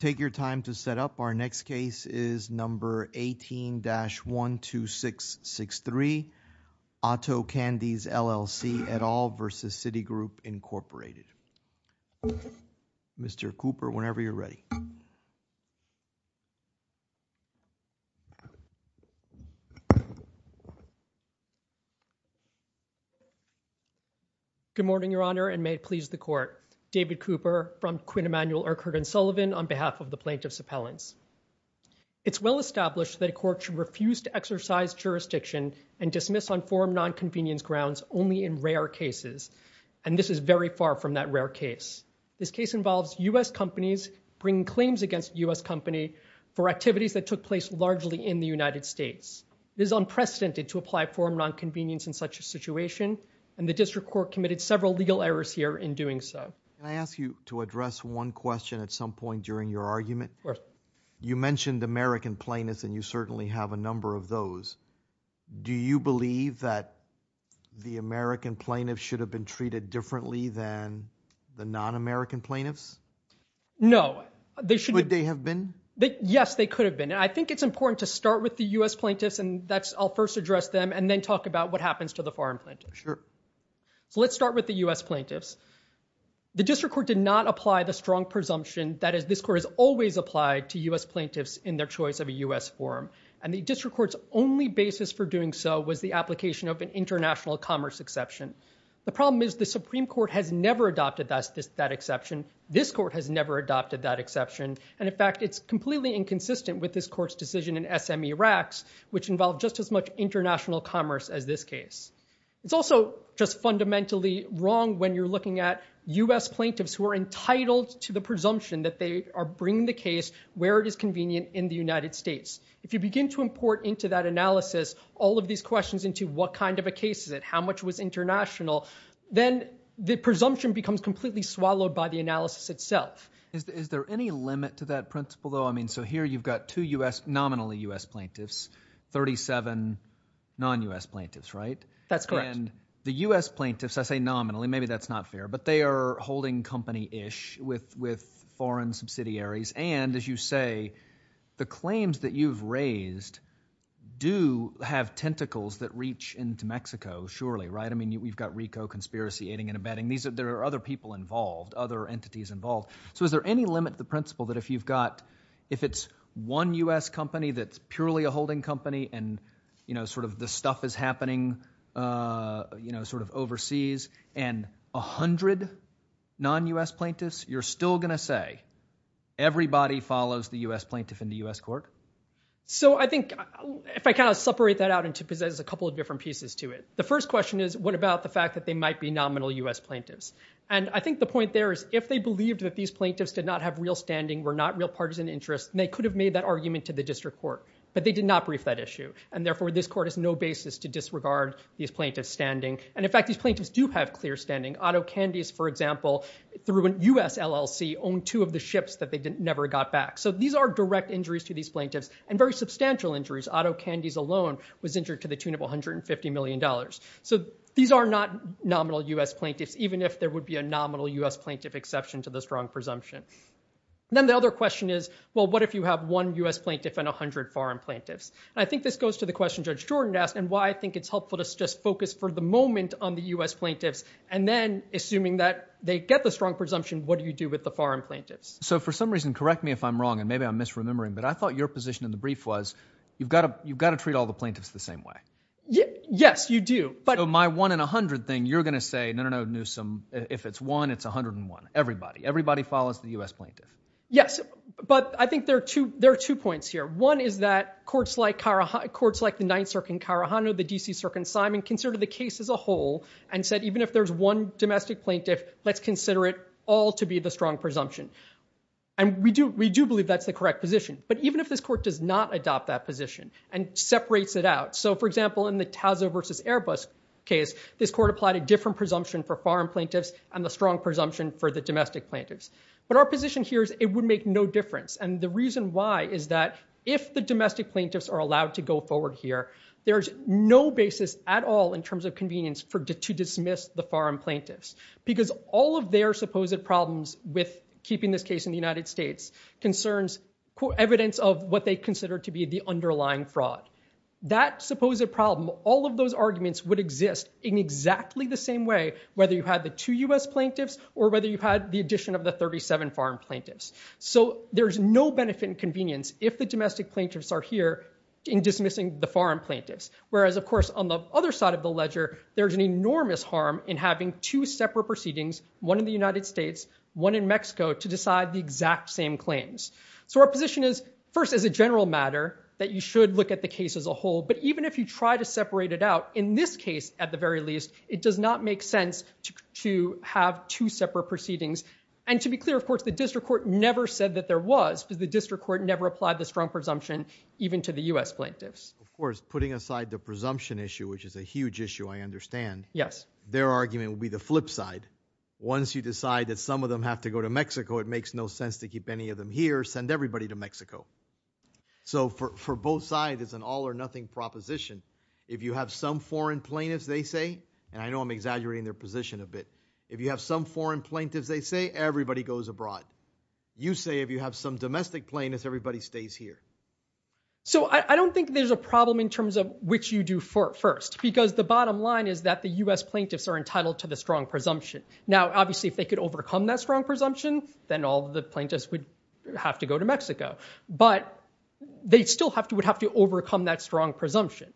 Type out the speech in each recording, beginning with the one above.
Take your time to set up. Our next case is number 18-12663, Otto Candies, LLC, et al. versus Citigroup, Incorporated. Mr. Cooper, whenever you're ready. Good morning, Your Honor, and may it please the Court. David Cooper from Quinn Emanuel, Urquhart & Sullivan on behalf of the Plaintiffs' Appellants. It's well established that a court should refuse to exercise jurisdiction and dismiss on forum nonconvenience grounds only in rare cases, and this is very far from that rare case. This case involves U.S. companies bringing claims against a U.S. company for activities that took place largely in the United States. It is unprecedented to apply forum nonconvenience in such a situation, and the District Court committed several legal errors here in doing so. Can I ask you to address one question at some point during your argument? Of course. You mentioned American plaintiffs, and you certainly have a number of those. Do you believe that the American plaintiffs should have been treated differently than the non-American plaintiffs? No. Could they have been? Yes, they could have been. I think it's important to start with the U.S. plaintiffs, and I'll first address them and then talk about what happens to the foreign plaintiffs. Sure. So let's start with the U.S. plaintiffs. The District Court did not apply the strong presumption that this Court has always applied to U.S. plaintiffs in their choice of a U.S. forum, and the District Court's only basis for doing so was the application of an international commerce exception. The problem is the Supreme Court has never adopted that exception. This Court has never adopted that exception, and in fact, it's completely inconsistent with this Court's decision in SME RACs, which involved just as much international commerce as this case. It's also just fundamentally wrong when you're looking at U.S. plaintiffs who are entitled to the presumption that they are bringing the case where it is convenient in the United States. If you begin to import into that analysis all of these questions into what kind of a case is it, how much was international, then the presumption becomes completely swallowed by the analysis itself. Is there any limit to that principle, though? I mean, so here you've got two nominally U.S. plaintiffs, 37 non-U.S. plaintiffs, right? That's correct. And the U.S. plaintiffs, I say nominally, maybe that's not fair, but they are holding company-ish with foreign subsidiaries. And as you say, the claims that you've raised do have tentacles that reach into Mexico, surely, right? I mean, we've got RICO conspiracy aiding and abetting. There are other people involved, other entities involved. So is there any limit to the principle that if you've got, if it's one U.S. company that's you're still going to say everybody follows the U.S. plaintiff in the U.S. court? So I think, if I kind of separate that out into, because there's a couple of different pieces to it. The first question is, what about the fact that they might be nominal U.S. plaintiffs? And I think the point there is, if they believed that these plaintiffs did not have real standing, were not real partisan interests, they could have made that argument to the district court. But they did not brief that issue. And therefore, this court has no basis to disregard these plaintiffs' standing. And in fact, these plaintiffs do have clear standing. Otto Candies, for example, through a U.S. LLC, owned two of the ships that they never got back. So these are direct injuries to these plaintiffs, and very substantial injuries. Otto Candies alone was injured to the tune of $150 million. So these are not nominal U.S. plaintiffs, even if there would be a nominal U.S. plaintiff exception to the strong presumption. Then the other question is, well, what if you have one U.S. plaintiff and 100 foreign plaintiffs? And I think this goes to the question Judge Jordan asked, and why I think it's helpful to just focus for the moment on the U.S. plaintiffs, and then, assuming that they get the strong presumption, what do you do with the foreign plaintiffs? So for some reason, correct me if I'm wrong, and maybe I'm misremembering, but I thought your position in the brief was, you've got to treat all the plaintiffs the same way. Yes, you do. So my 1 in 100 thing, you're going to say, no, no, no, Newsom, if it's 1, it's 101, everybody. Everybody follows the U.S. plaintiff. Yes, but I think there are two points here. One is that courts like the Ninth Circuit in Carahano, the D.C. Circuit in Simon, considered the case as a whole and said, even if there's one domestic plaintiff, let's consider it all to be the strong presumption. And we do believe that's the correct position. But even if this court does not adopt that position and separates it out, so for example, in the Tazo v. Airbus case, this court applied a different presumption for foreign plaintiffs and the strong presumption for the domestic plaintiffs. But our position here is it would make no difference. And the reason why is that if the domestic plaintiffs are allowed to go forward here, there's no basis at all in terms of convenience to dismiss the foreign plaintiffs. Because all of their supposed problems with keeping this case in the United States concerns evidence of what they consider to be the underlying fraud. That supposed problem, all of those arguments would exist in exactly the same way, whether you had the two U.S. plaintiffs or whether you had the addition of the 37 foreign plaintiffs. So there's no benefit and convenience if the domestic plaintiffs are here in dismissing the foreign plaintiffs. Whereas, of course, on the other side of the ledger, there's an enormous harm in having two separate proceedings, one in the United States, one in Mexico, to decide the exact same claims. So our position is, first, as a general matter, that you should look at the case as a whole. But even if you try to separate it out, in this case, at the very least, it does not make sense to have two separate proceedings. And to be clear, of course, the district court never said that there was, because the district court never applied the strong presumption, even to the U.S. plaintiffs. Of course, putting aside the presumption issue, which is a huge issue, I understand, their argument would be the flip side. Once you decide that some of them have to go to Mexico, it makes no sense to keep any of them here, send everybody to Mexico. So for both sides, it's an all or nothing proposition. If you have some foreign plaintiffs, they say, and I know I'm exaggerating their position a bit, if you have some foreign plaintiffs, they say, everybody goes abroad. You say, if you have some domestic plaintiffs, everybody stays here. So I don't think there's a problem in terms of which you do first. Because the bottom line is that the U.S. plaintiffs are entitled to the strong presumption. Now, obviously, if they could overcome that strong presumption, then all the plaintiffs would have to go to Mexico. But they still would have to overcome that strong presumption.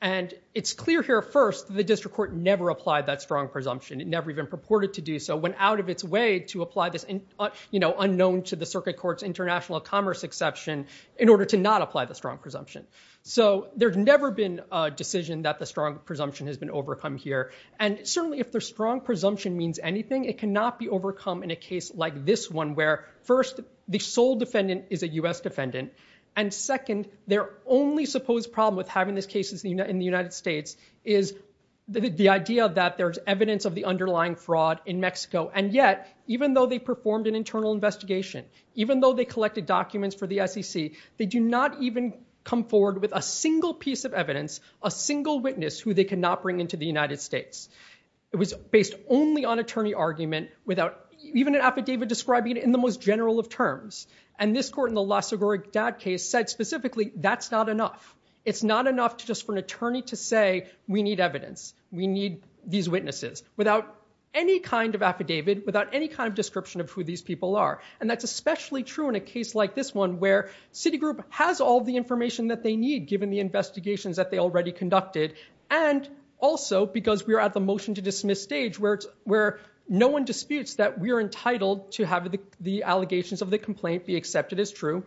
And it's clear here, first, the district court never applied that strong presumption. It never even purported to do so, went out of its way to apply this unknown to the circuit court's international commerce exception in order to not apply the strong presumption. So there's never been a decision that the strong presumption has been overcome here. And certainly, if the strong presumption means anything, it cannot be overcome in a case like this one, where, first, the sole defendant is a U.S. defendant. And second, their only supposed problem with having this case in the United States is the idea that there's evidence of the underlying fraud in Mexico. And yet, even though they performed an internal investigation, even though they collected documents for the SEC, they do not even come forward with a single piece of evidence, a single witness, who they cannot bring into the United States. It was based only on attorney argument, without even an affidavit describing it in the most general of terms. And this court in the Laszlo Goryk-Dad case said specifically, that's not enough. It's not enough just for an attorney to say, we need evidence. We need these witnesses, without any kind of affidavit, without any kind of description of who these people are. And that's especially true in a case like this one, where Citigroup has all the information that they need, given the investigations that they already conducted, and also because we are at the motion to dismiss stage, where no one disputes that we are entitled to have the allegations of the complaint be accepted as true,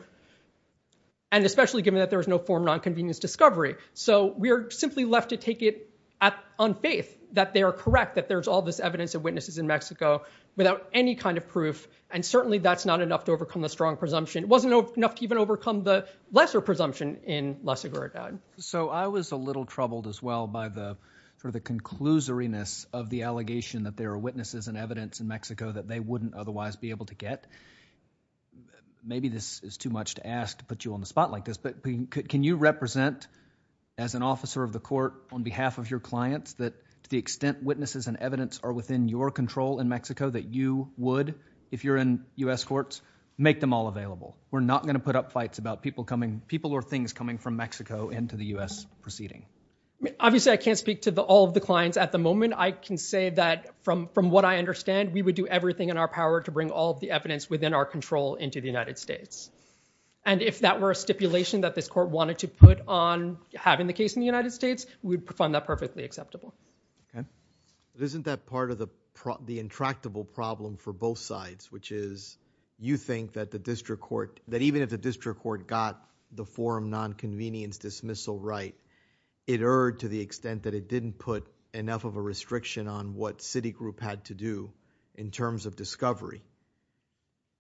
and especially given that there is no form of nonconvenience discovery. So we are simply left to take it on faith that they are correct, that there's all this evidence of witnesses in Mexico, without any kind of proof, and certainly that's not enough to overcome the strong presumption. It wasn't enough to even overcome the lesser presumption in Laszlo Goryk-Dad. So I was a little troubled as well by the conclusoriness of the allegation that there are witnesses and evidence in Mexico that they wouldn't otherwise be able to get. Maybe this is too much to ask to put you on the spot like this, but can you represent, as an officer of the court, on behalf of your clients, that to the extent witnesses and evidence are within your control in Mexico, that you would, if you're in U.S. courts, make them all available? We're not going to put up fights about people or things coming from Mexico into the U.S. proceeding. Obviously, I can't speak to all of the clients at the moment. I can say that, from what I understand, we would do everything in our power to bring all of the evidence within our control into the United States. And if that were a stipulation that this court wanted to put on having the case in the United States, we would find that perfectly acceptable. Okay. Isn't that part of the intractable problem for both sides, which is, you think that the district court, that even if the district court got the forum nonconvenience dismissal right, it erred to the extent that it didn't put enough of a restriction on what Citigroup had to do in terms of discovery,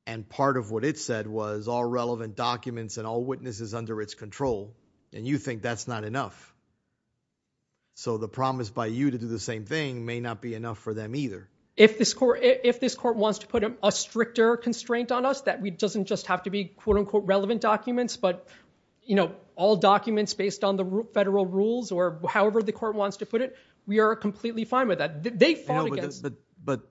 and part of what it said was all relevant documents and all witnesses under its control, and you think that's not enough. So the promise by you to do the same thing may not be enough for them either. If this court wants to put a stricter constraint on us, that it doesn't just have to be quote unquote relevant documents, but, you know, all documents based on the federal rules or however the court wants to put it, we are completely fine with that. They fought against it. But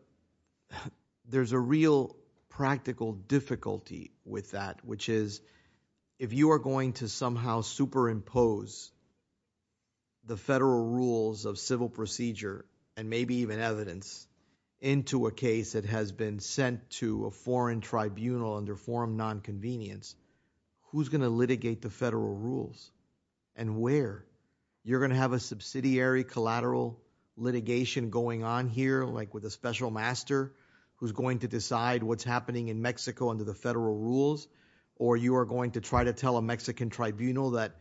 there's a real practical difficulty with that, which is, if you are going to somehow superimpose the federal rules of civil procedure and maybe even evidence into a case that has been sent to a foreign tribunal under forum nonconvenience, who's going to litigate the federal rules and where? You're going to have a subsidiary collateral litigation going on here, like with a special master who's going to decide what's happening in Mexico under the federal rules, or you are going to try to tell a Mexican tribunal that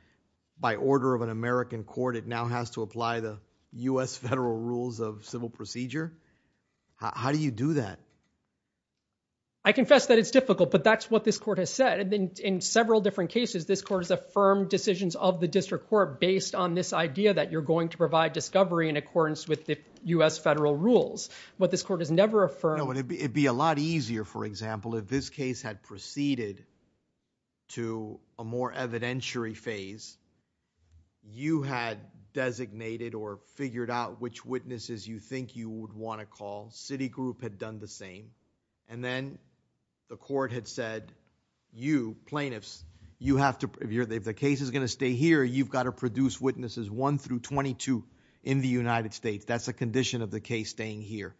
by order of an American court it now has to apply the U.S. federal rules of civil procedure? How do you do that? I confess that it's difficult, but that's what this court has said. In several different cases, this court has affirmed decisions of the district court based on this idea that you're going to provide discovery in accordance with the U.S. federal rules. What this court has never affirmed... It would be a lot easier, for example, if this case had proceeded to a more evidentiary phase. You had designated or figured out which witnesses you think you would want to call. Citigroup had done the same, and then the court had said, you, plaintiffs, if the case is going to stay here, you've got to produce witnesses 1 through 22 in the United States. That's a condition of the case staying here.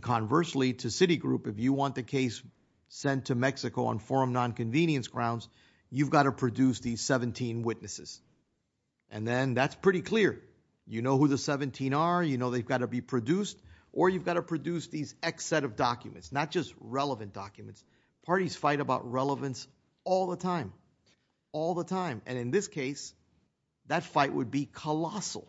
Conversely, to Citigroup, if you want the case sent to Mexico on forum nonconvenience grounds, you've got to produce these 17 witnesses. That's pretty clear. You know who the 17 are. You know they've got to be produced. Or you've got to produce these X set of documents, not just relevant documents. Parties fight about relevance all the time. All the time. And in this case, that fight would be colossal.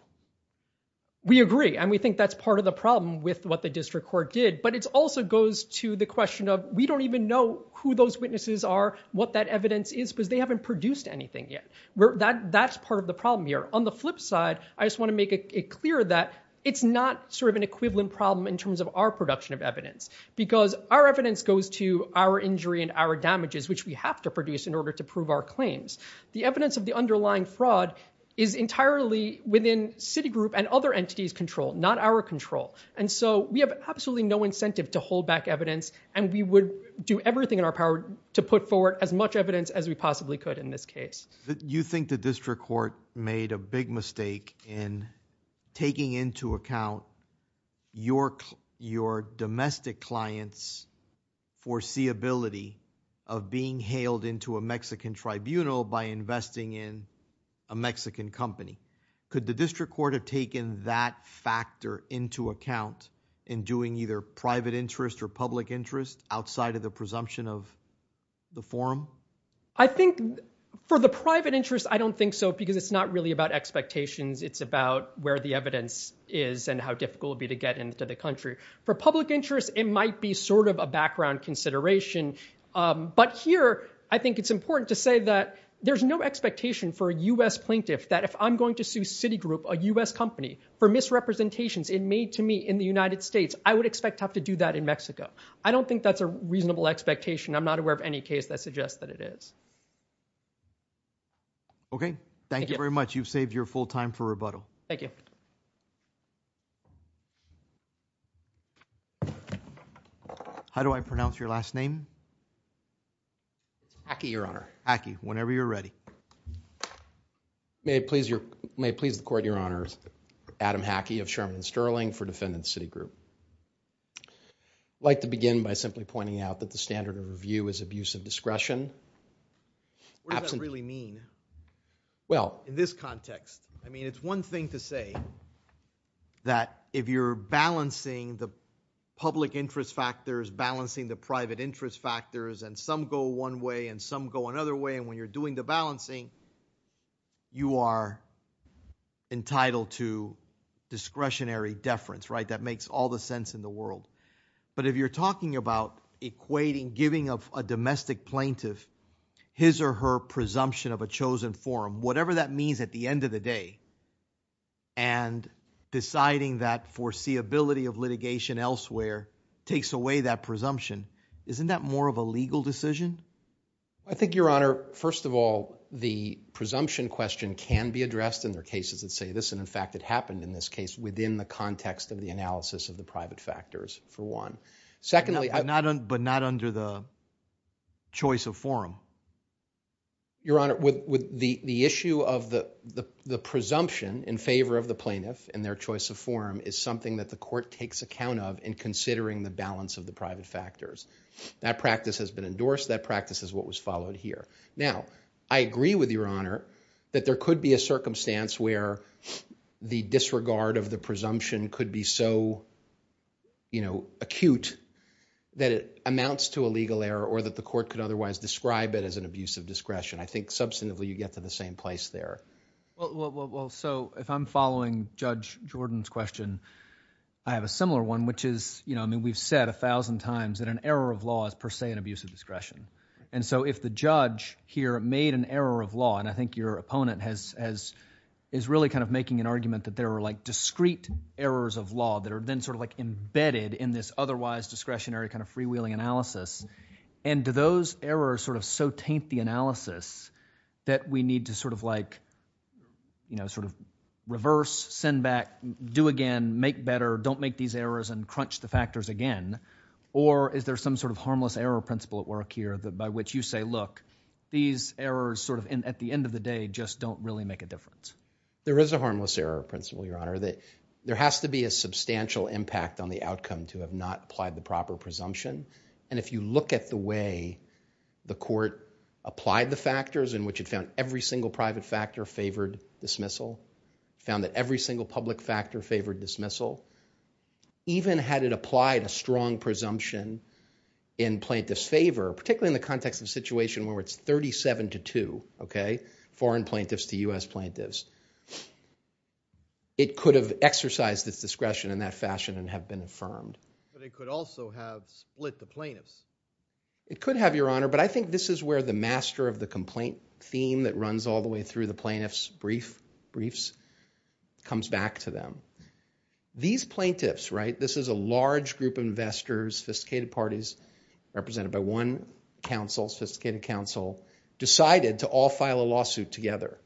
We agree, and we think that's part of the problem with what the district court did. But it also goes to the question of, we don't even know who those witnesses are, what that evidence is, because they haven't produced anything yet. That's part of the problem here. On the flip side, I just want to make it clear that it's not sort of an equivalent problem in terms of our production of evidence. Because our evidence goes to our injury and our damages, which we have to produce in order to prove our claims. The evidence of the underlying fraud is entirely within Citigroup and other entities' control, not our control. And so we have absolutely no incentive to hold back evidence, and we would do everything in our power to put forward as much evidence as we possibly could in this case. You think the district court made a big mistake in taking into account your domestic client's foreseeability of being hailed into a Mexican tribunal by investing in a Mexican company. Could the district court have taken that factor into account in doing either private interest or public interest outside of the presumption of the forum? I think for the private interest, I don't think so, because it's not really about expectations. It's about where the evidence is and how difficult it would be to get into the country. For public interest, it might be sort of a background consideration. But here, I think it's important to say that there's no expectation for a US plaintiff that if I'm going to sue Citigroup, a US company, for misrepresentations it made to me in the United States, I would expect to have to do that in Mexico. I don't think that's a reasonable expectation. I'm not aware of any case that suggests that it is. Okay. Thank you very much. You've saved your full time for rebuttal. Thank you. How do I pronounce your last name? Hackey, Your Honor. Hackey, whenever you're ready. May it please the court, Your Honors. Adam Hackey of Sherman and Sterling for defendant Citigroup. I'd like to begin by simply pointing out that the standard of review is abuse of discretion. What does that really mean in this context? I mean, it's one thing to say that if you're balancing the public interest factors, balancing the private interest factors, and some go one way and some go another way, and when you're doing the balancing, you are entitled to discretionary deference, right? That makes all the sense in the world. But if you're talking about equating giving of a domestic plaintiff his or her presumption of a chosen forum, whatever that means at the end of the day, and deciding that foreseeability of litigation elsewhere takes away that presumption, isn't that more of a legal decision? I think, Your Honor, first of all, the presumption question can be addressed in the cases that the court takes account of in considering the balance of the private factors. That practice has been endorsed. That practice is what was followed here. Now, I agree with Your Honor that there could be a circumstance where the disregard of the presumption is so acute that it amounts to a legal error or that the court could otherwise describe it as an abuse of discretion. I think substantively you get to the same place there. Well, so if I'm following Judge Jordan's question, I have a similar one, which is, I mean, we've said a thousand times that an error of law is per se an abuse of discretion. And so if the judge here made an error of law, and I think your opponent is really kind of making an argument that there are, like, discrete errors of law that are then sort of, like, embedded in this otherwise discretionary kind of freewheeling analysis, and do those errors sort of so taint the analysis that we need to sort of, like, you know, sort of reverse, send back, do again, make better, don't make these errors, and crunch the factors again, or is there some sort of harmless error principle at work here by which you say, look, these errors sort of, at the end of the day, just don't really make a difference? There is a harmless error principle, Your Honor, that there has to be a substantial impact on the outcome to have not applied the proper presumption. And if you look at the way the court applied the factors in which it found every single private factor favored dismissal, found that every single public factor favored dismissal, even had it applied a strong presumption in plaintiff's favor, particularly in the context of a situation where it's 37 to 2, okay, foreign plaintiffs to U.S. plaintiffs. It could have exercised its discretion in that fashion and have been affirmed. But it could also have split the plaintiffs. It could have, Your Honor, but I think this is where the master of the complaint theme that runs all the way through the plaintiffs' briefs comes back to them. These plaintiffs, right, this is a large group of investors, sophisticated parties, represented by one council, sophisticated council, decided to all file a lawsuit together,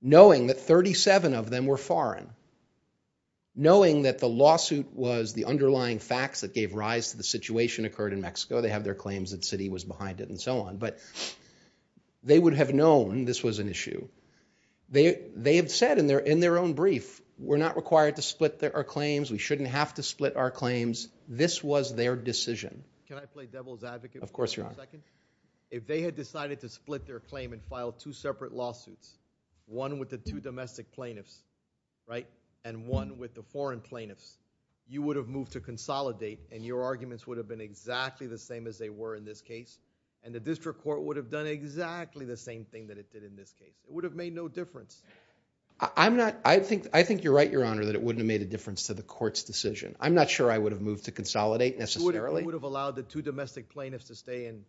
knowing that 37 of them were foreign, knowing that the lawsuit was the underlying facts that gave rise to the situation occurred in Mexico. They have their claims that Citi was behind it and so on. But they would have known this was an issue. They have said in their own brief, we're not required to split our claims. We shouldn't have to split our claims. This was their decision. Can I play devil's advocate for a second? Of course, Your Honor. If they had decided to split their claim and file two separate lawsuits, one with the two domestic plaintiffs, right, and one with the foreign plaintiffs, you would have moved to consolidate and your arguments would have been exactly the same as they were in this case. And the district court would have done exactly the same thing that it did in this case. It would have made no difference. I'm not, I think, I think you're right, Your Honor, that it wouldn't have made a difference to the court's decision. I'm not sure I would have moved to consolidate necessarily. You wouldn't have allowed the two domestic plaintiffs to stay in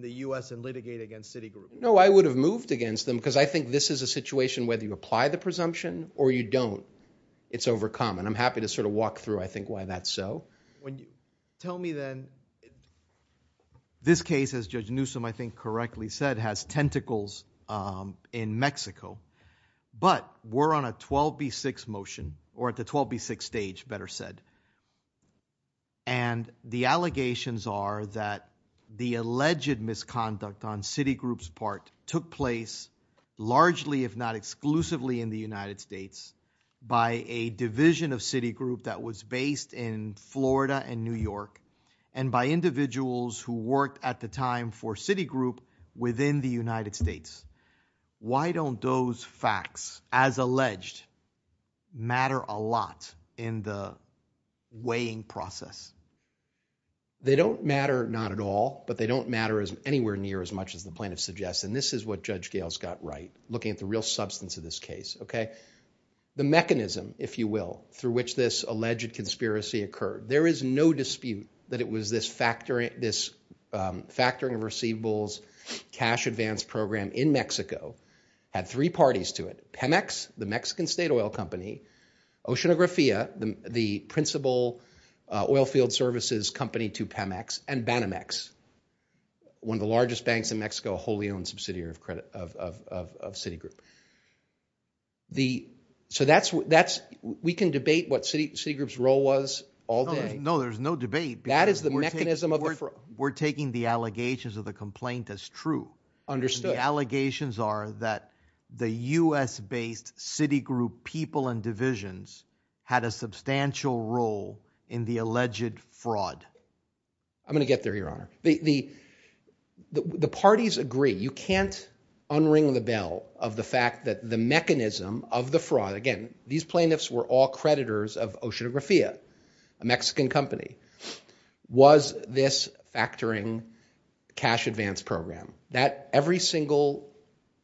the U.S. and litigate against Citi Group. No, I would have moved against them because I think this is a situation, whether you apply the presumption or you don't, it's overcome. And I'm happy to sort of walk through, I think, why that's so. Tell me then, this case, as Judge Newsom, I think correctly said, has tentacles in Mexico, but we're on a 12B6 motion or at the 12B6 stage, better said. And the allegations are that the alleged misconduct on Citi Group's part took place largely, if not exclusively, in the United States by a division of Citi Group that was based in Florida and New York and by individuals who worked at the time for Citi Group within the United States. Why don't those facts, as alleged, matter a lot in the weighing process? They don't matter, not at all, but they don't matter anywhere near as much as the plaintiffs suggest. And this is what Judge Gales got right, looking at the real substance of this case. The mechanism, if you will, through which this alleged conspiracy occurred, there is no dispute that it was this factoring of receivables cash advance program in Mexico had three parties to it, Pemex, the Mexican state oil company, Oceanografía, the principal oil field services company to Pemex, and Banamex, one of the largest banks in Mexico, a wholly owned subsidiary of Citi Group. So we can debate what Citi Group's role was all day. No, there's no debate. That is the mechanism of the fraud. We're taking the allegations of the complaint as true. Understood. The allegations are that the U.S.-based Citi Group people and divisions had a substantial role in the alleged fraud. I'm going to get there, Your Honor. The parties agree. You can't unring the bell of the fact that the mechanism of the fraud, again, these plaintiffs were all creditors of Oceanografía, a Mexican company, was this factoring cash advance program. Every single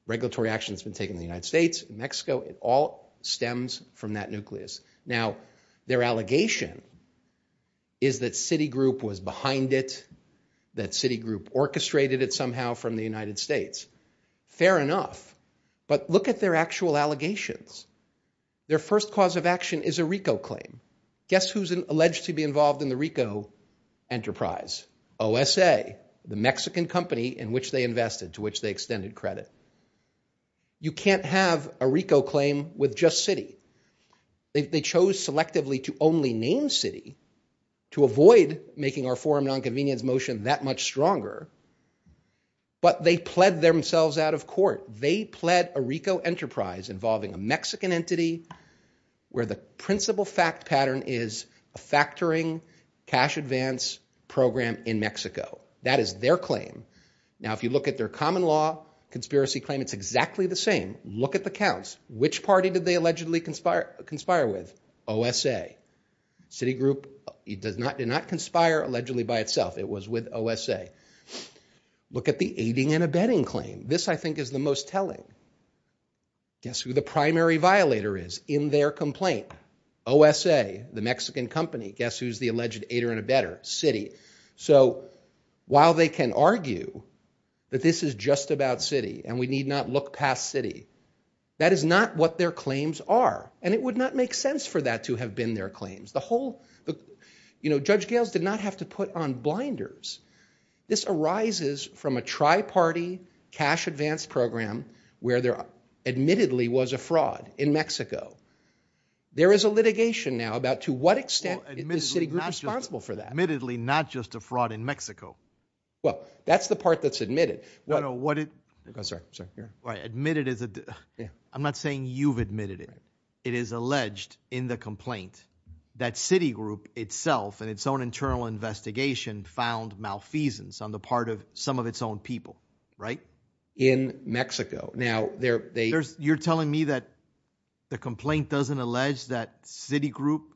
regulatory action that's been taken in the United States, in Mexico, it all stems from that nucleus. Now their allegation is that Citi Group was behind it, that Citi Group orchestrated it somehow from the United States. Fair enough. But look at their actual allegations. Their first cause of action is a RICO claim. Guess who's alleged to be involved in the RICO enterprise? OSA, the Mexican company in which they invested, to which they extended credit. You can't have a RICO claim with just Citi. They chose selectively to only name Citi to avoid making our forum nonconvenience motion They pled a RICO enterprise involving a Mexican entity where the principal fact pattern is a factoring cash advance program in Mexico. That is their claim. Now if you look at their common law conspiracy claim, it's exactly the same. Look at the counts. Which party did they allegedly conspire with? OSA. Citi Group did not conspire allegedly by itself. It was with OSA. Look at the aiding and abetting claim. This I think is the most telling. Guess who the primary violator is in their complaint? OSA, the Mexican company. Guess who's the alleged aider and abetter? Citi. So while they can argue that this is just about Citi and we need not look past Citi, that is not what their claims are. And it would not make sense for that to have been their claims. The whole, you know, Judge Gales did not have to put on blinders. This arises from a tri-party cash advance program where there admittedly was a fraud in Mexico. There is a litigation now about to what extent is Citi Group responsible for that. Admittedly not just a fraud in Mexico. Well, that's the part that's admitted. No, no. What it... Sorry. Sorry. Admitted as a... I'm not saying you've admitted it. It is alleged in the complaint that Citi Group itself and its own internal investigation found malfeasance on the part of some of its own people, right? In Mexico. Now, they're... You're telling me that the complaint doesn't allege that Citi Group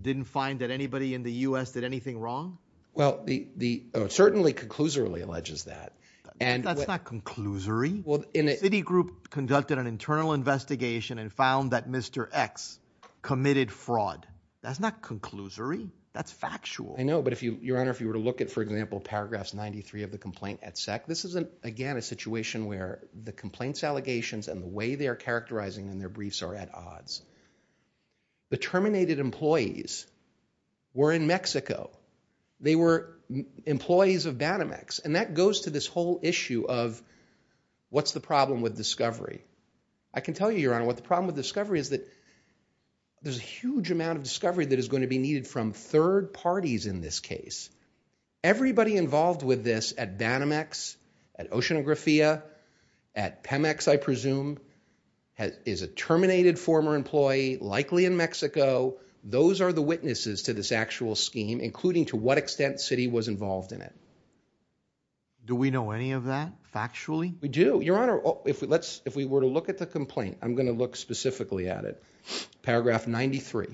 didn't find that anybody in the U.S. did anything wrong? Well, it certainly conclusively alleges that. And... That's not conclusory. Citi Group conducted an internal investigation and found that Mr. X committed fraud. That's not conclusory. That's factual. I know. But if you... Your Honor, if you were to look at, for example, paragraphs 93 of the complaint at SEC, this isn't, again, a situation where the complaint's allegations and the way they are characterizing in their briefs are at odds. The terminated employees were in Mexico. They were employees of Banamex. And that goes to this whole issue of what's the problem with discovery? I can tell you, Your Honor, what the problem with discovery is that there's a huge amount of discovery that is going to be needed from third parties in this case. Everybody involved with this at Banamex, at Oceanografia, at Pemex, I presume, is a terminated former employee, likely in Mexico. Those are the witnesses to this actual scheme, including to what extent Citi was involved in it. Do we know any of that, factually? We do. Your Honor, if we were to look at the complaint, I'm going to look specifically at it. Paragraph 93.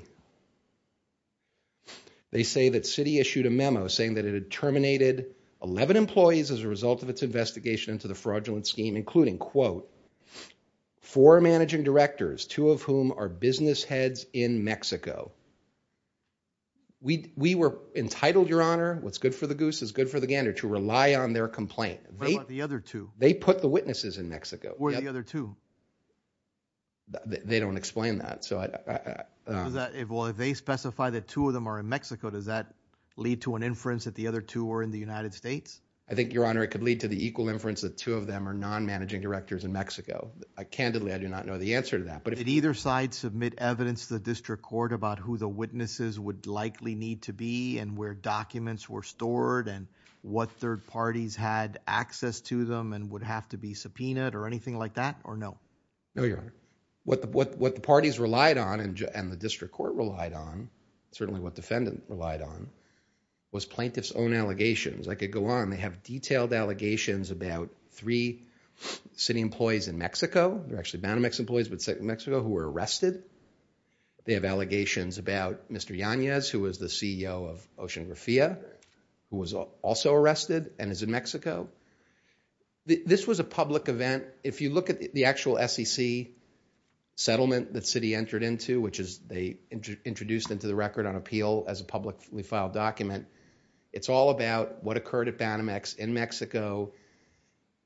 They say that Citi issued a memo saying that it had terminated 11 employees as a result of its investigation into the fraudulent scheme, including, quote, four managing directors, two of whom are business heads in Mexico. We were entitled, Your Honor, what's good for the goose is good for the gander, to rely on their complaint. What about the other two? They put the witnesses in Mexico. Or the other two. They don't explain that. If they specify that two of them are in Mexico, does that lead to an inference that the other two were in the United States? I think, Your Honor, it could lead to the equal inference that two of them are non-managing directors in Mexico. Candidly, I do not know the answer to that. Did either side submit evidence to the district court about who the witnesses would likely need to be and where documents were stored and what third parties had access to them and would have to be subpoenaed or anything like that, or no? No, Your Honor. What the parties relied on and the district court relied on, certainly what defendant relied on, was plaintiff's own allegations. I could go on. They have detailed allegations about three Citi employees in Mexico. They're actually Banamex employees, but Citi in Mexico, who were arrested. They have allegations about Mr. Yanez, who is the CEO of Ocean Grafia, who was also arrested and is in Mexico. This was a public event. If you look at the actual SEC settlement that Citi entered into, which they introduced into the record on appeal as a publicly filed document, it's all about what occurred at Banamex in Mexico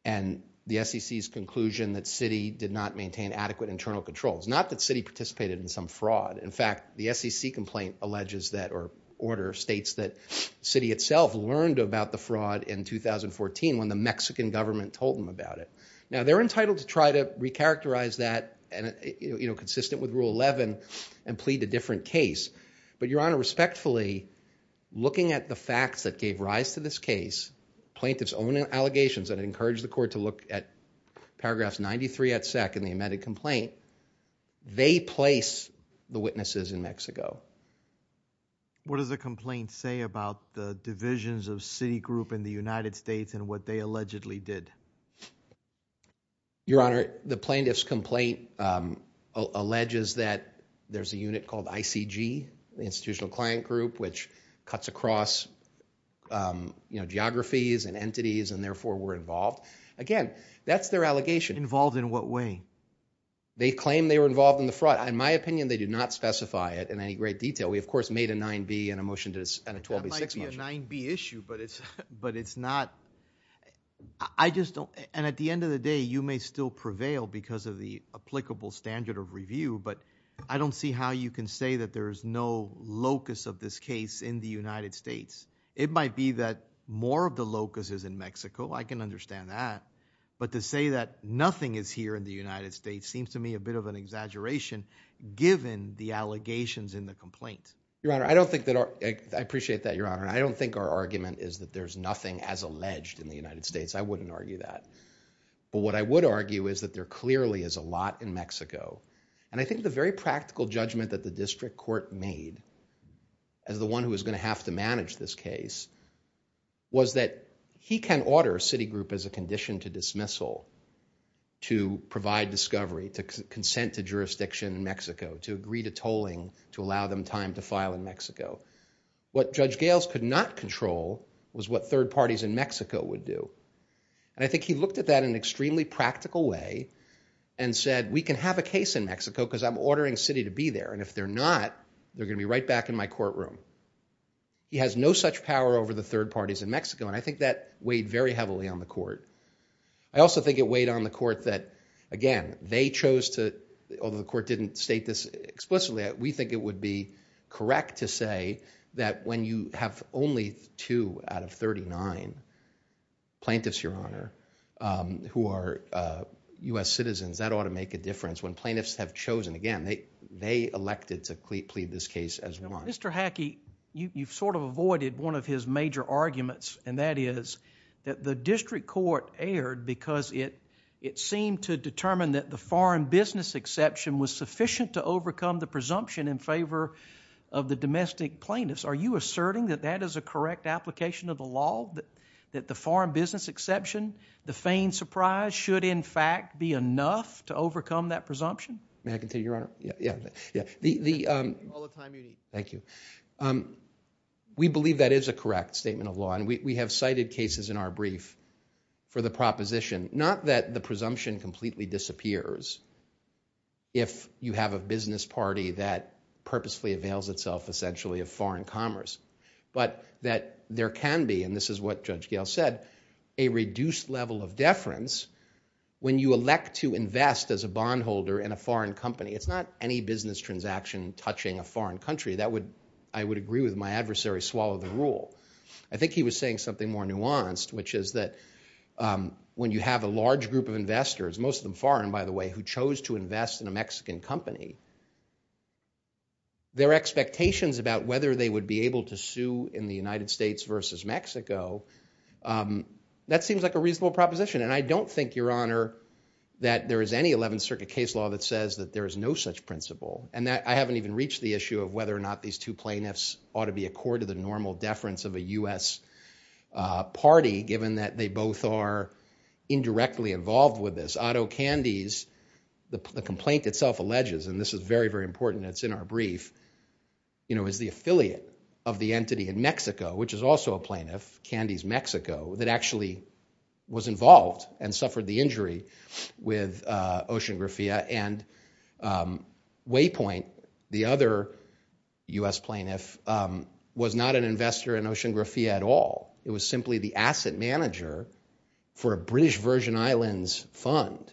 and the SEC's conclusion that Citi did not maintain adequate internal controls. Not that Citi participated in some fraud. In fact, the SEC complaint alleges that, or order states that, Citi itself learned about the fraud in 2014 when the Mexican government told them about it. Now, they're entitled to try to recharacterize that, consistent with Rule 11, and plead a different case. But, Your Honor, respectfully, looking at the facts that gave rise to this case, plaintiff's own allegations, and I encourage the court to look at paragraphs 93 at SEC in the amended complaint, they place the witnesses in Mexico. What does the complaint say about the divisions of Citi Group in the United States and what they allegedly did? Your Honor, the plaintiff's complaint alleges that there's a unit called ICG, the Institutional Client Group, which cuts across, you know, geographies and entities, and therefore we're involved. Again, that's their allegation. Involved in what way? They claim they were involved in the fraud. In my opinion, they do not specify it in any great detail. We, of course, made a 9B and a 12B6 motion. That might be a 9B issue, but it's not... I just don't... and at the end of the day, you may still prevail because of the applicable standard of review, but I don't see how you can say that there's no locus of this case in the United States. It might be that more of the locus is in Mexico, I can understand that, but to say that nothing is here in the United States seems to me a bit of an exaggeration given the allegations in the complaint. Your Honor, I don't think that our... I appreciate that, Your Honor, and I don't think our argument is that there's nothing as alleged in the United States. I wouldn't argue that, but what I would argue is that there clearly is a lot in Mexico, and I think the very practical judgment that the district court made as the one who was going to have to manage this case was that he can order a city group as a condition to provide discovery, to consent to jurisdiction in Mexico, to agree to tolling, to allow them time to file in Mexico. What Judge Gales could not control was what third parties in Mexico would do, and I think he looked at that in an extremely practical way and said, we can have a case in Mexico because I'm ordering a city to be there, and if they're not, they're going to be right back in my courtroom. He has no such power over the third parties in Mexico, and I think that weighed very heavily on the court. I also think it weighed on the court that, again, they chose to... although the court didn't state this explicitly, we think it would be correct to say that when you have only two out of 39 plaintiffs, Your Honor, who are U.S. citizens, that ought to make a difference. When plaintiffs have chosen, again, they elected to plead this case as one. Mr. Hackey, you've avoided one of his major arguments, and that is that the district court erred because it seemed to determine that the foreign business exception was sufficient to overcome the presumption in favor of the domestic plaintiffs. Are you asserting that that is a correct application of the law, that the foreign business exception, the feigned surprise, should in fact be enough to overcome that presumption? May I continue, Your Honor? Yeah. All the time you need. Thank you. Thank you. We believe that is a correct statement of law, and we have cited cases in our brief for the proposition. Not that the presumption completely disappears if you have a business party that purposefully avails itself essentially of foreign commerce, but that there can be, and this is what Judge Gale said, a reduced level of deference when you elect to invest as a bondholder in a foreign company. It's not any business transaction touching a foreign country. That would, I would agree with my adversary, swallow the rule. I think he was saying something more nuanced, which is that when you have a large group of investors, most of them foreign, by the way, who chose to invest in a Mexican company, their expectations about whether they would be able to sue in the United States versus Mexico, that seems like a reasonable proposition. And I don't think, Your Honor, that there is any Eleventh Circuit case law that says that there is no such principle. And I haven't even reached the issue of whether or not these two plaintiffs ought to be a court of the normal deference of a U.S. party, given that they both are indirectly involved with this. Otto Candes, the complaint itself alleges, and this is very, very important and it's in our brief, is the affiliate of the entity in Mexico, which is also a plaintiff, Candes Mexico, that actually was involved and suffered the injury with OceanGrafia. And Waypoint, the other U.S. plaintiff, was not an investor in OceanGrafia at all. It was simply the asset manager for a British Virgin Islands fund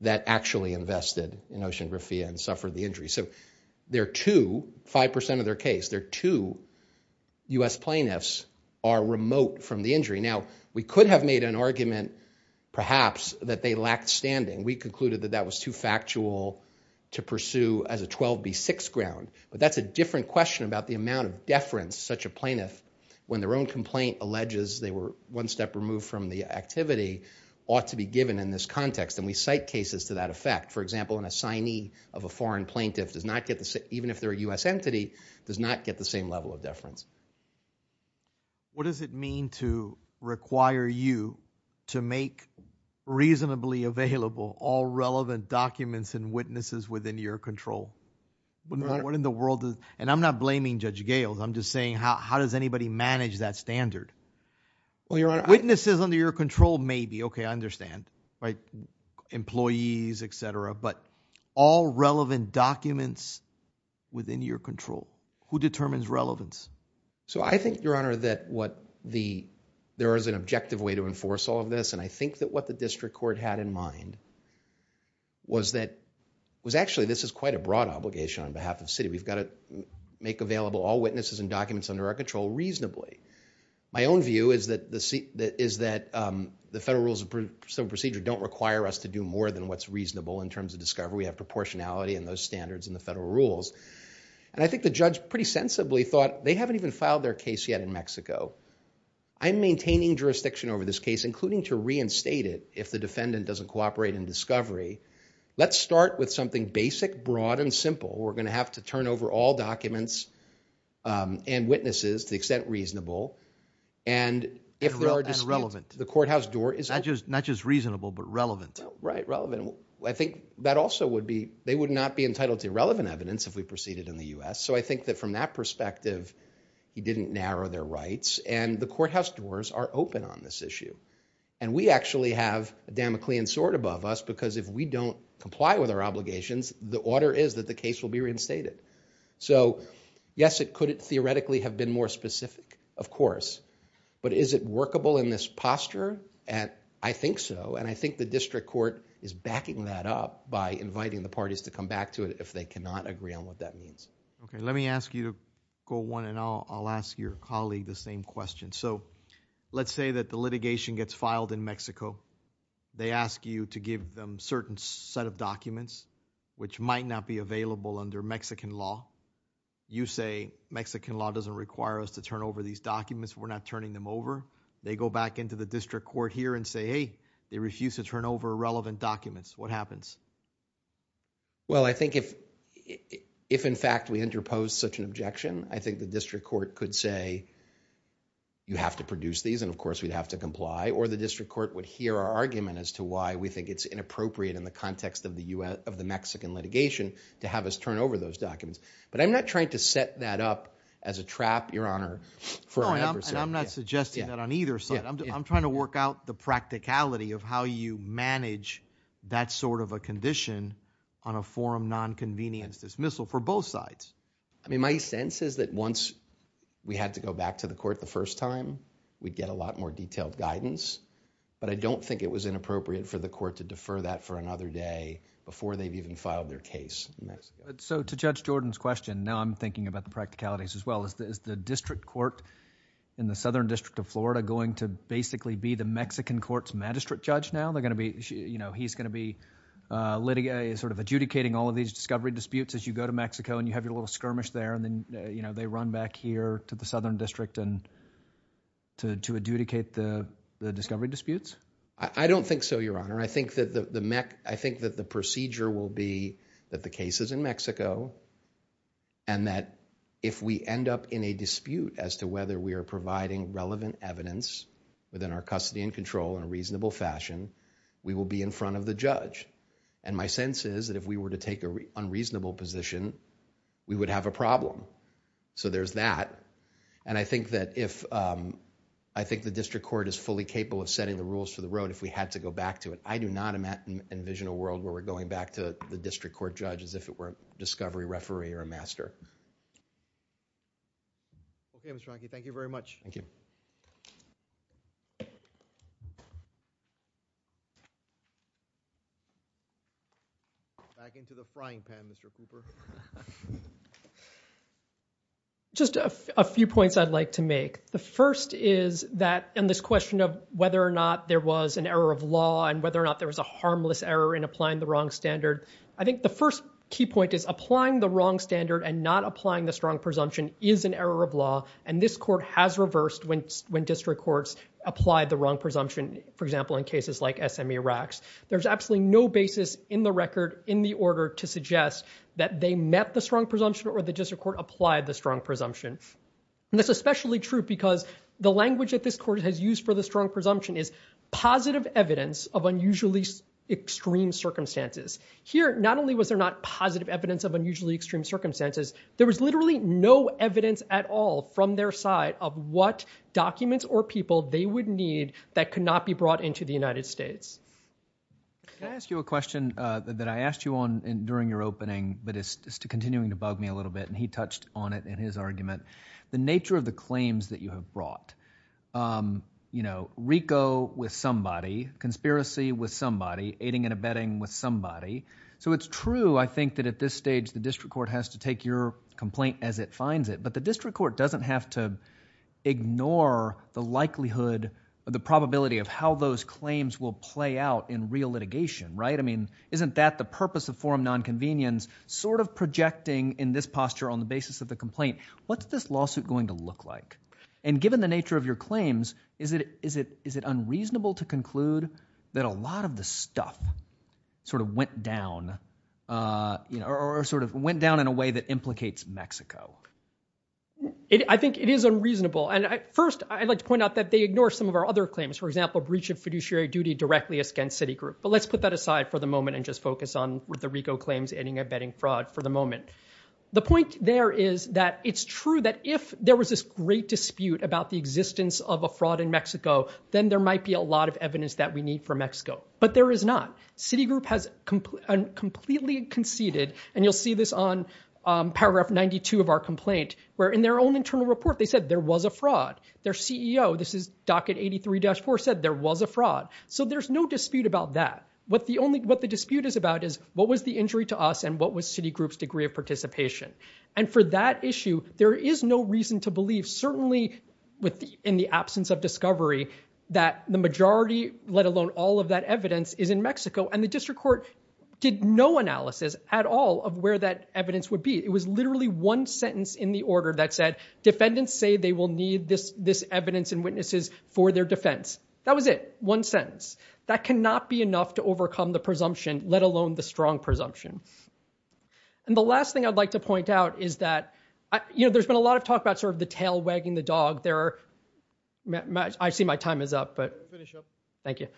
that actually invested in OceanGrafia and suffered the injury. So there are two, five percent of their case, there are two U.S. plaintiffs are remote from the injury. Now, we could have made an argument, perhaps, that they lacked standing. We concluded that that was too factual to pursue as a 12B6 ground. But that's a different question about the amount of deference such a plaintiff, when their own complaint alleges they were one step removed from the activity, ought to be given in this context. And we cite cases to that effect. For example, an assignee of a foreign plaintiff, even if they're a U.S. entity, does not get the same level of deference. What does it mean to require you to make reasonably available all relevant documents and witnesses within your control? And I'm not blaming Judge Gales, I'm just saying, how does anybody manage that standard? Witnesses under your control, maybe, okay, I understand, right, employees, et cetera, but all relevant documents within your control? Who determines relevance? So I think, Your Honor, that what the, there is an objective way to enforce all of this, and I think that what the district court had in mind was that, was actually, this is quite a broad obligation on behalf of the city, we've got to make available all witnesses and documents under our control reasonably. My own view is that the Federal Rules of Procedure don't require us to do more than what's reasonable in terms of discovery. We have proportionality in those standards in the Federal Rules, and I think the judge pretty sensibly thought, they haven't even filed their case yet in Mexico. I'm maintaining jurisdiction over this case, including to reinstate it if the defendant doesn't cooperate in discovery. Let's start with something basic, broad, and simple. We're going to have to turn over all documents and witnesses to the extent reasonable, and if there are disputes, the courthouse door is open. Not just reasonable, but relevant. Right, relevant. I think that also would be, they would not be entitled to irrelevant evidence if we proceeded in the U.S., so I think that from that perspective, he didn't narrow their rights, and the courthouse doors are open on this issue. And we actually have a Damoclean sword above us, because if we don't comply with our obligations, the order is that the case will be reinstated. So yes, it could theoretically have been more specific, of course, but is it workable in this posture? I think so, and I think the district court is backing that up by inviting the parties to come back to it if they cannot agree on what that means. Okay, let me ask you to go one, and I'll ask your colleague the same question. So let's say that the litigation gets filed in Mexico. They ask you to give them a certain set of documents, which might not be available under Mexican law. You say, Mexican law doesn't require us to turn over these documents, we're not turning them over. They go back into the district court here and say, hey, they refuse to turn over relevant documents. What happens? Well, I think if, if in fact we interpose such an objection, I think the district court could say, you have to produce these, and of course we'd have to comply, or the district court would hear our argument as to why we think it's inappropriate in the context of the U.S., of the Mexican litigation to have us turn over those documents. But I'm not trying to set that up as a trap, your honor, for our membership. No, and I'm not suggesting that on either side. I'm trying to work out the practicality of how you manage that sort of a condition on a forum non-convenience dismissal for both sides. I mean, my sense is that once we had to go back to the court the first time, we'd get a lot more detailed guidance. But I don't think it was inappropriate for the court to defer that for another day before they've even filed their case. So to Judge Jordan's question, now I'm thinking about the practicalities as well, is the district court in the Southern District of Florida going to basically be the Mexican court's magistrate judge now? They're going to be, you know, he's going to be sort of adjudicating all of these discovery disputes as you go to Mexico and you have your little skirmish there, and then, you the Southern District and to adjudicate the discovery disputes? I don't think so, your honor. I think that the procedure will be that the case is in Mexico and that if we end up in a dispute as to whether we are providing relevant evidence within our custody and control in a reasonable fashion, we will be in front of the judge. And my sense is that if we were to take an unreasonable position, we would have a problem. So there's that. And I think that if... I think the district court is fully capable of setting the rules for the road if we had to go back to it. I do not envision a world where we're going back to the district court judge as if it were a discovery referee or a master. Okay, Mr. Ronke, thank you very much. Thank you. Back into the frying pan, Mr. Cooper. Just a few points I'd like to make. The first is that in this question of whether or not there was an error of law and whether or not there was a harmless error in applying the wrong standard, I think the first key point is applying the wrong standard and not applying the strong presumption is an error of law. And this court has reversed when district courts apply the wrong presumption, for example, in cases like SME racks. There's absolutely no basis in the record in the order to suggest that they met the strong presumption or the district court applied the strong presumption. And that's especially true because the language that this court has used for the strong presumption is positive evidence of unusually extreme circumstances. Here not only was there not positive evidence of unusually extreme circumstances, there was literally no evidence at all from their side of what documents or people they would need that could not be brought into the United States. Can I ask you a question that I asked you on during your opening but is continuing to bug me a little bit and he touched on it in his argument. The nature of the claims that you have brought, you know, RICO with somebody, conspiracy with somebody, aiding and abetting with somebody. So it's true, I think, that at this stage the district court has to take your complaint as it finds it. But the district court doesn't have to ignore the likelihood or the probability of how those claims will play out in real litigation, right? I mean, isn't that the purpose of forum nonconvenience? Sort of projecting in this posture on the basis of the complaint, what's this lawsuit going to look like? And given the nature of your claims, is it unreasonable to conclude that a lot of the I think it is unreasonable. And first, I'd like to point out that they ignore some of our other claims. For example, breach of fiduciary duty directly against Citigroup. But let's put that aside for the moment and just focus on the RICO claims, aiding and abetting fraud for the moment. The point there is that it's true that if there was this great dispute about the existence of a fraud in Mexico, then there might be a lot of evidence that we need for Mexico. But there is not. Citigroup has completely conceded, and you'll see this on paragraph 92 of our complaint, where in their own internal report, they said there was a fraud. Their CEO, this is docket 83-4, said there was a fraud. So there's no dispute about that. What the dispute is about is what was the injury to us and what was Citigroup's degree of participation. And for that issue, there is no reason to believe, certainly in the absence of discovery, that the majority, let alone all of that evidence, is in Mexico. And the district court did no analysis at all of where that evidence would be. It was literally one sentence in the order that said, defendants say they will need this evidence and witnesses for their defense. That was it. One sentence. That cannot be enough to overcome the presumption, let alone the strong presumption. And the last thing I'd like to point out is that, you know, there's been a lot of talk about sort of the tail wagging the dog. There are... I see my time is up, but... Finish up. Thank you.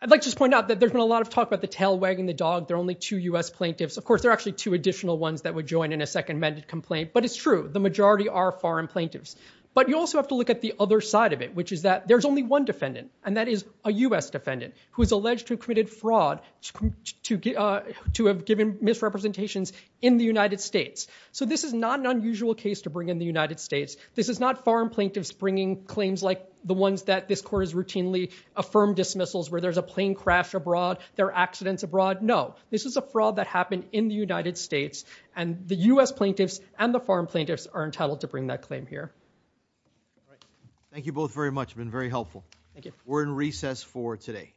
I'd like to just point out that there's been a lot of talk about the tail wagging the dog. There are only two U.S. plaintiffs. Of course, there are actually two additional ones that would join in a second amended complaint. But it's true. The majority are foreign plaintiffs. But you also have to look at the other side of it, which is that there's only one defendant, and that is a U.S. defendant who is alleged to have committed fraud, to have given misrepresentations in the United States. So this is not an unusual case to bring in the United States. This is not foreign plaintiffs bringing claims like the ones that this court has routinely affirmed dismissals where there's a plane crash abroad, there are accidents abroad. No. This is a fraud that happened in the United States, and the U.S. plaintiffs and the foreign plaintiffs are entitled to bring that claim here. Thank you both very much. It's been very helpful. Thank you. We're in recess for today.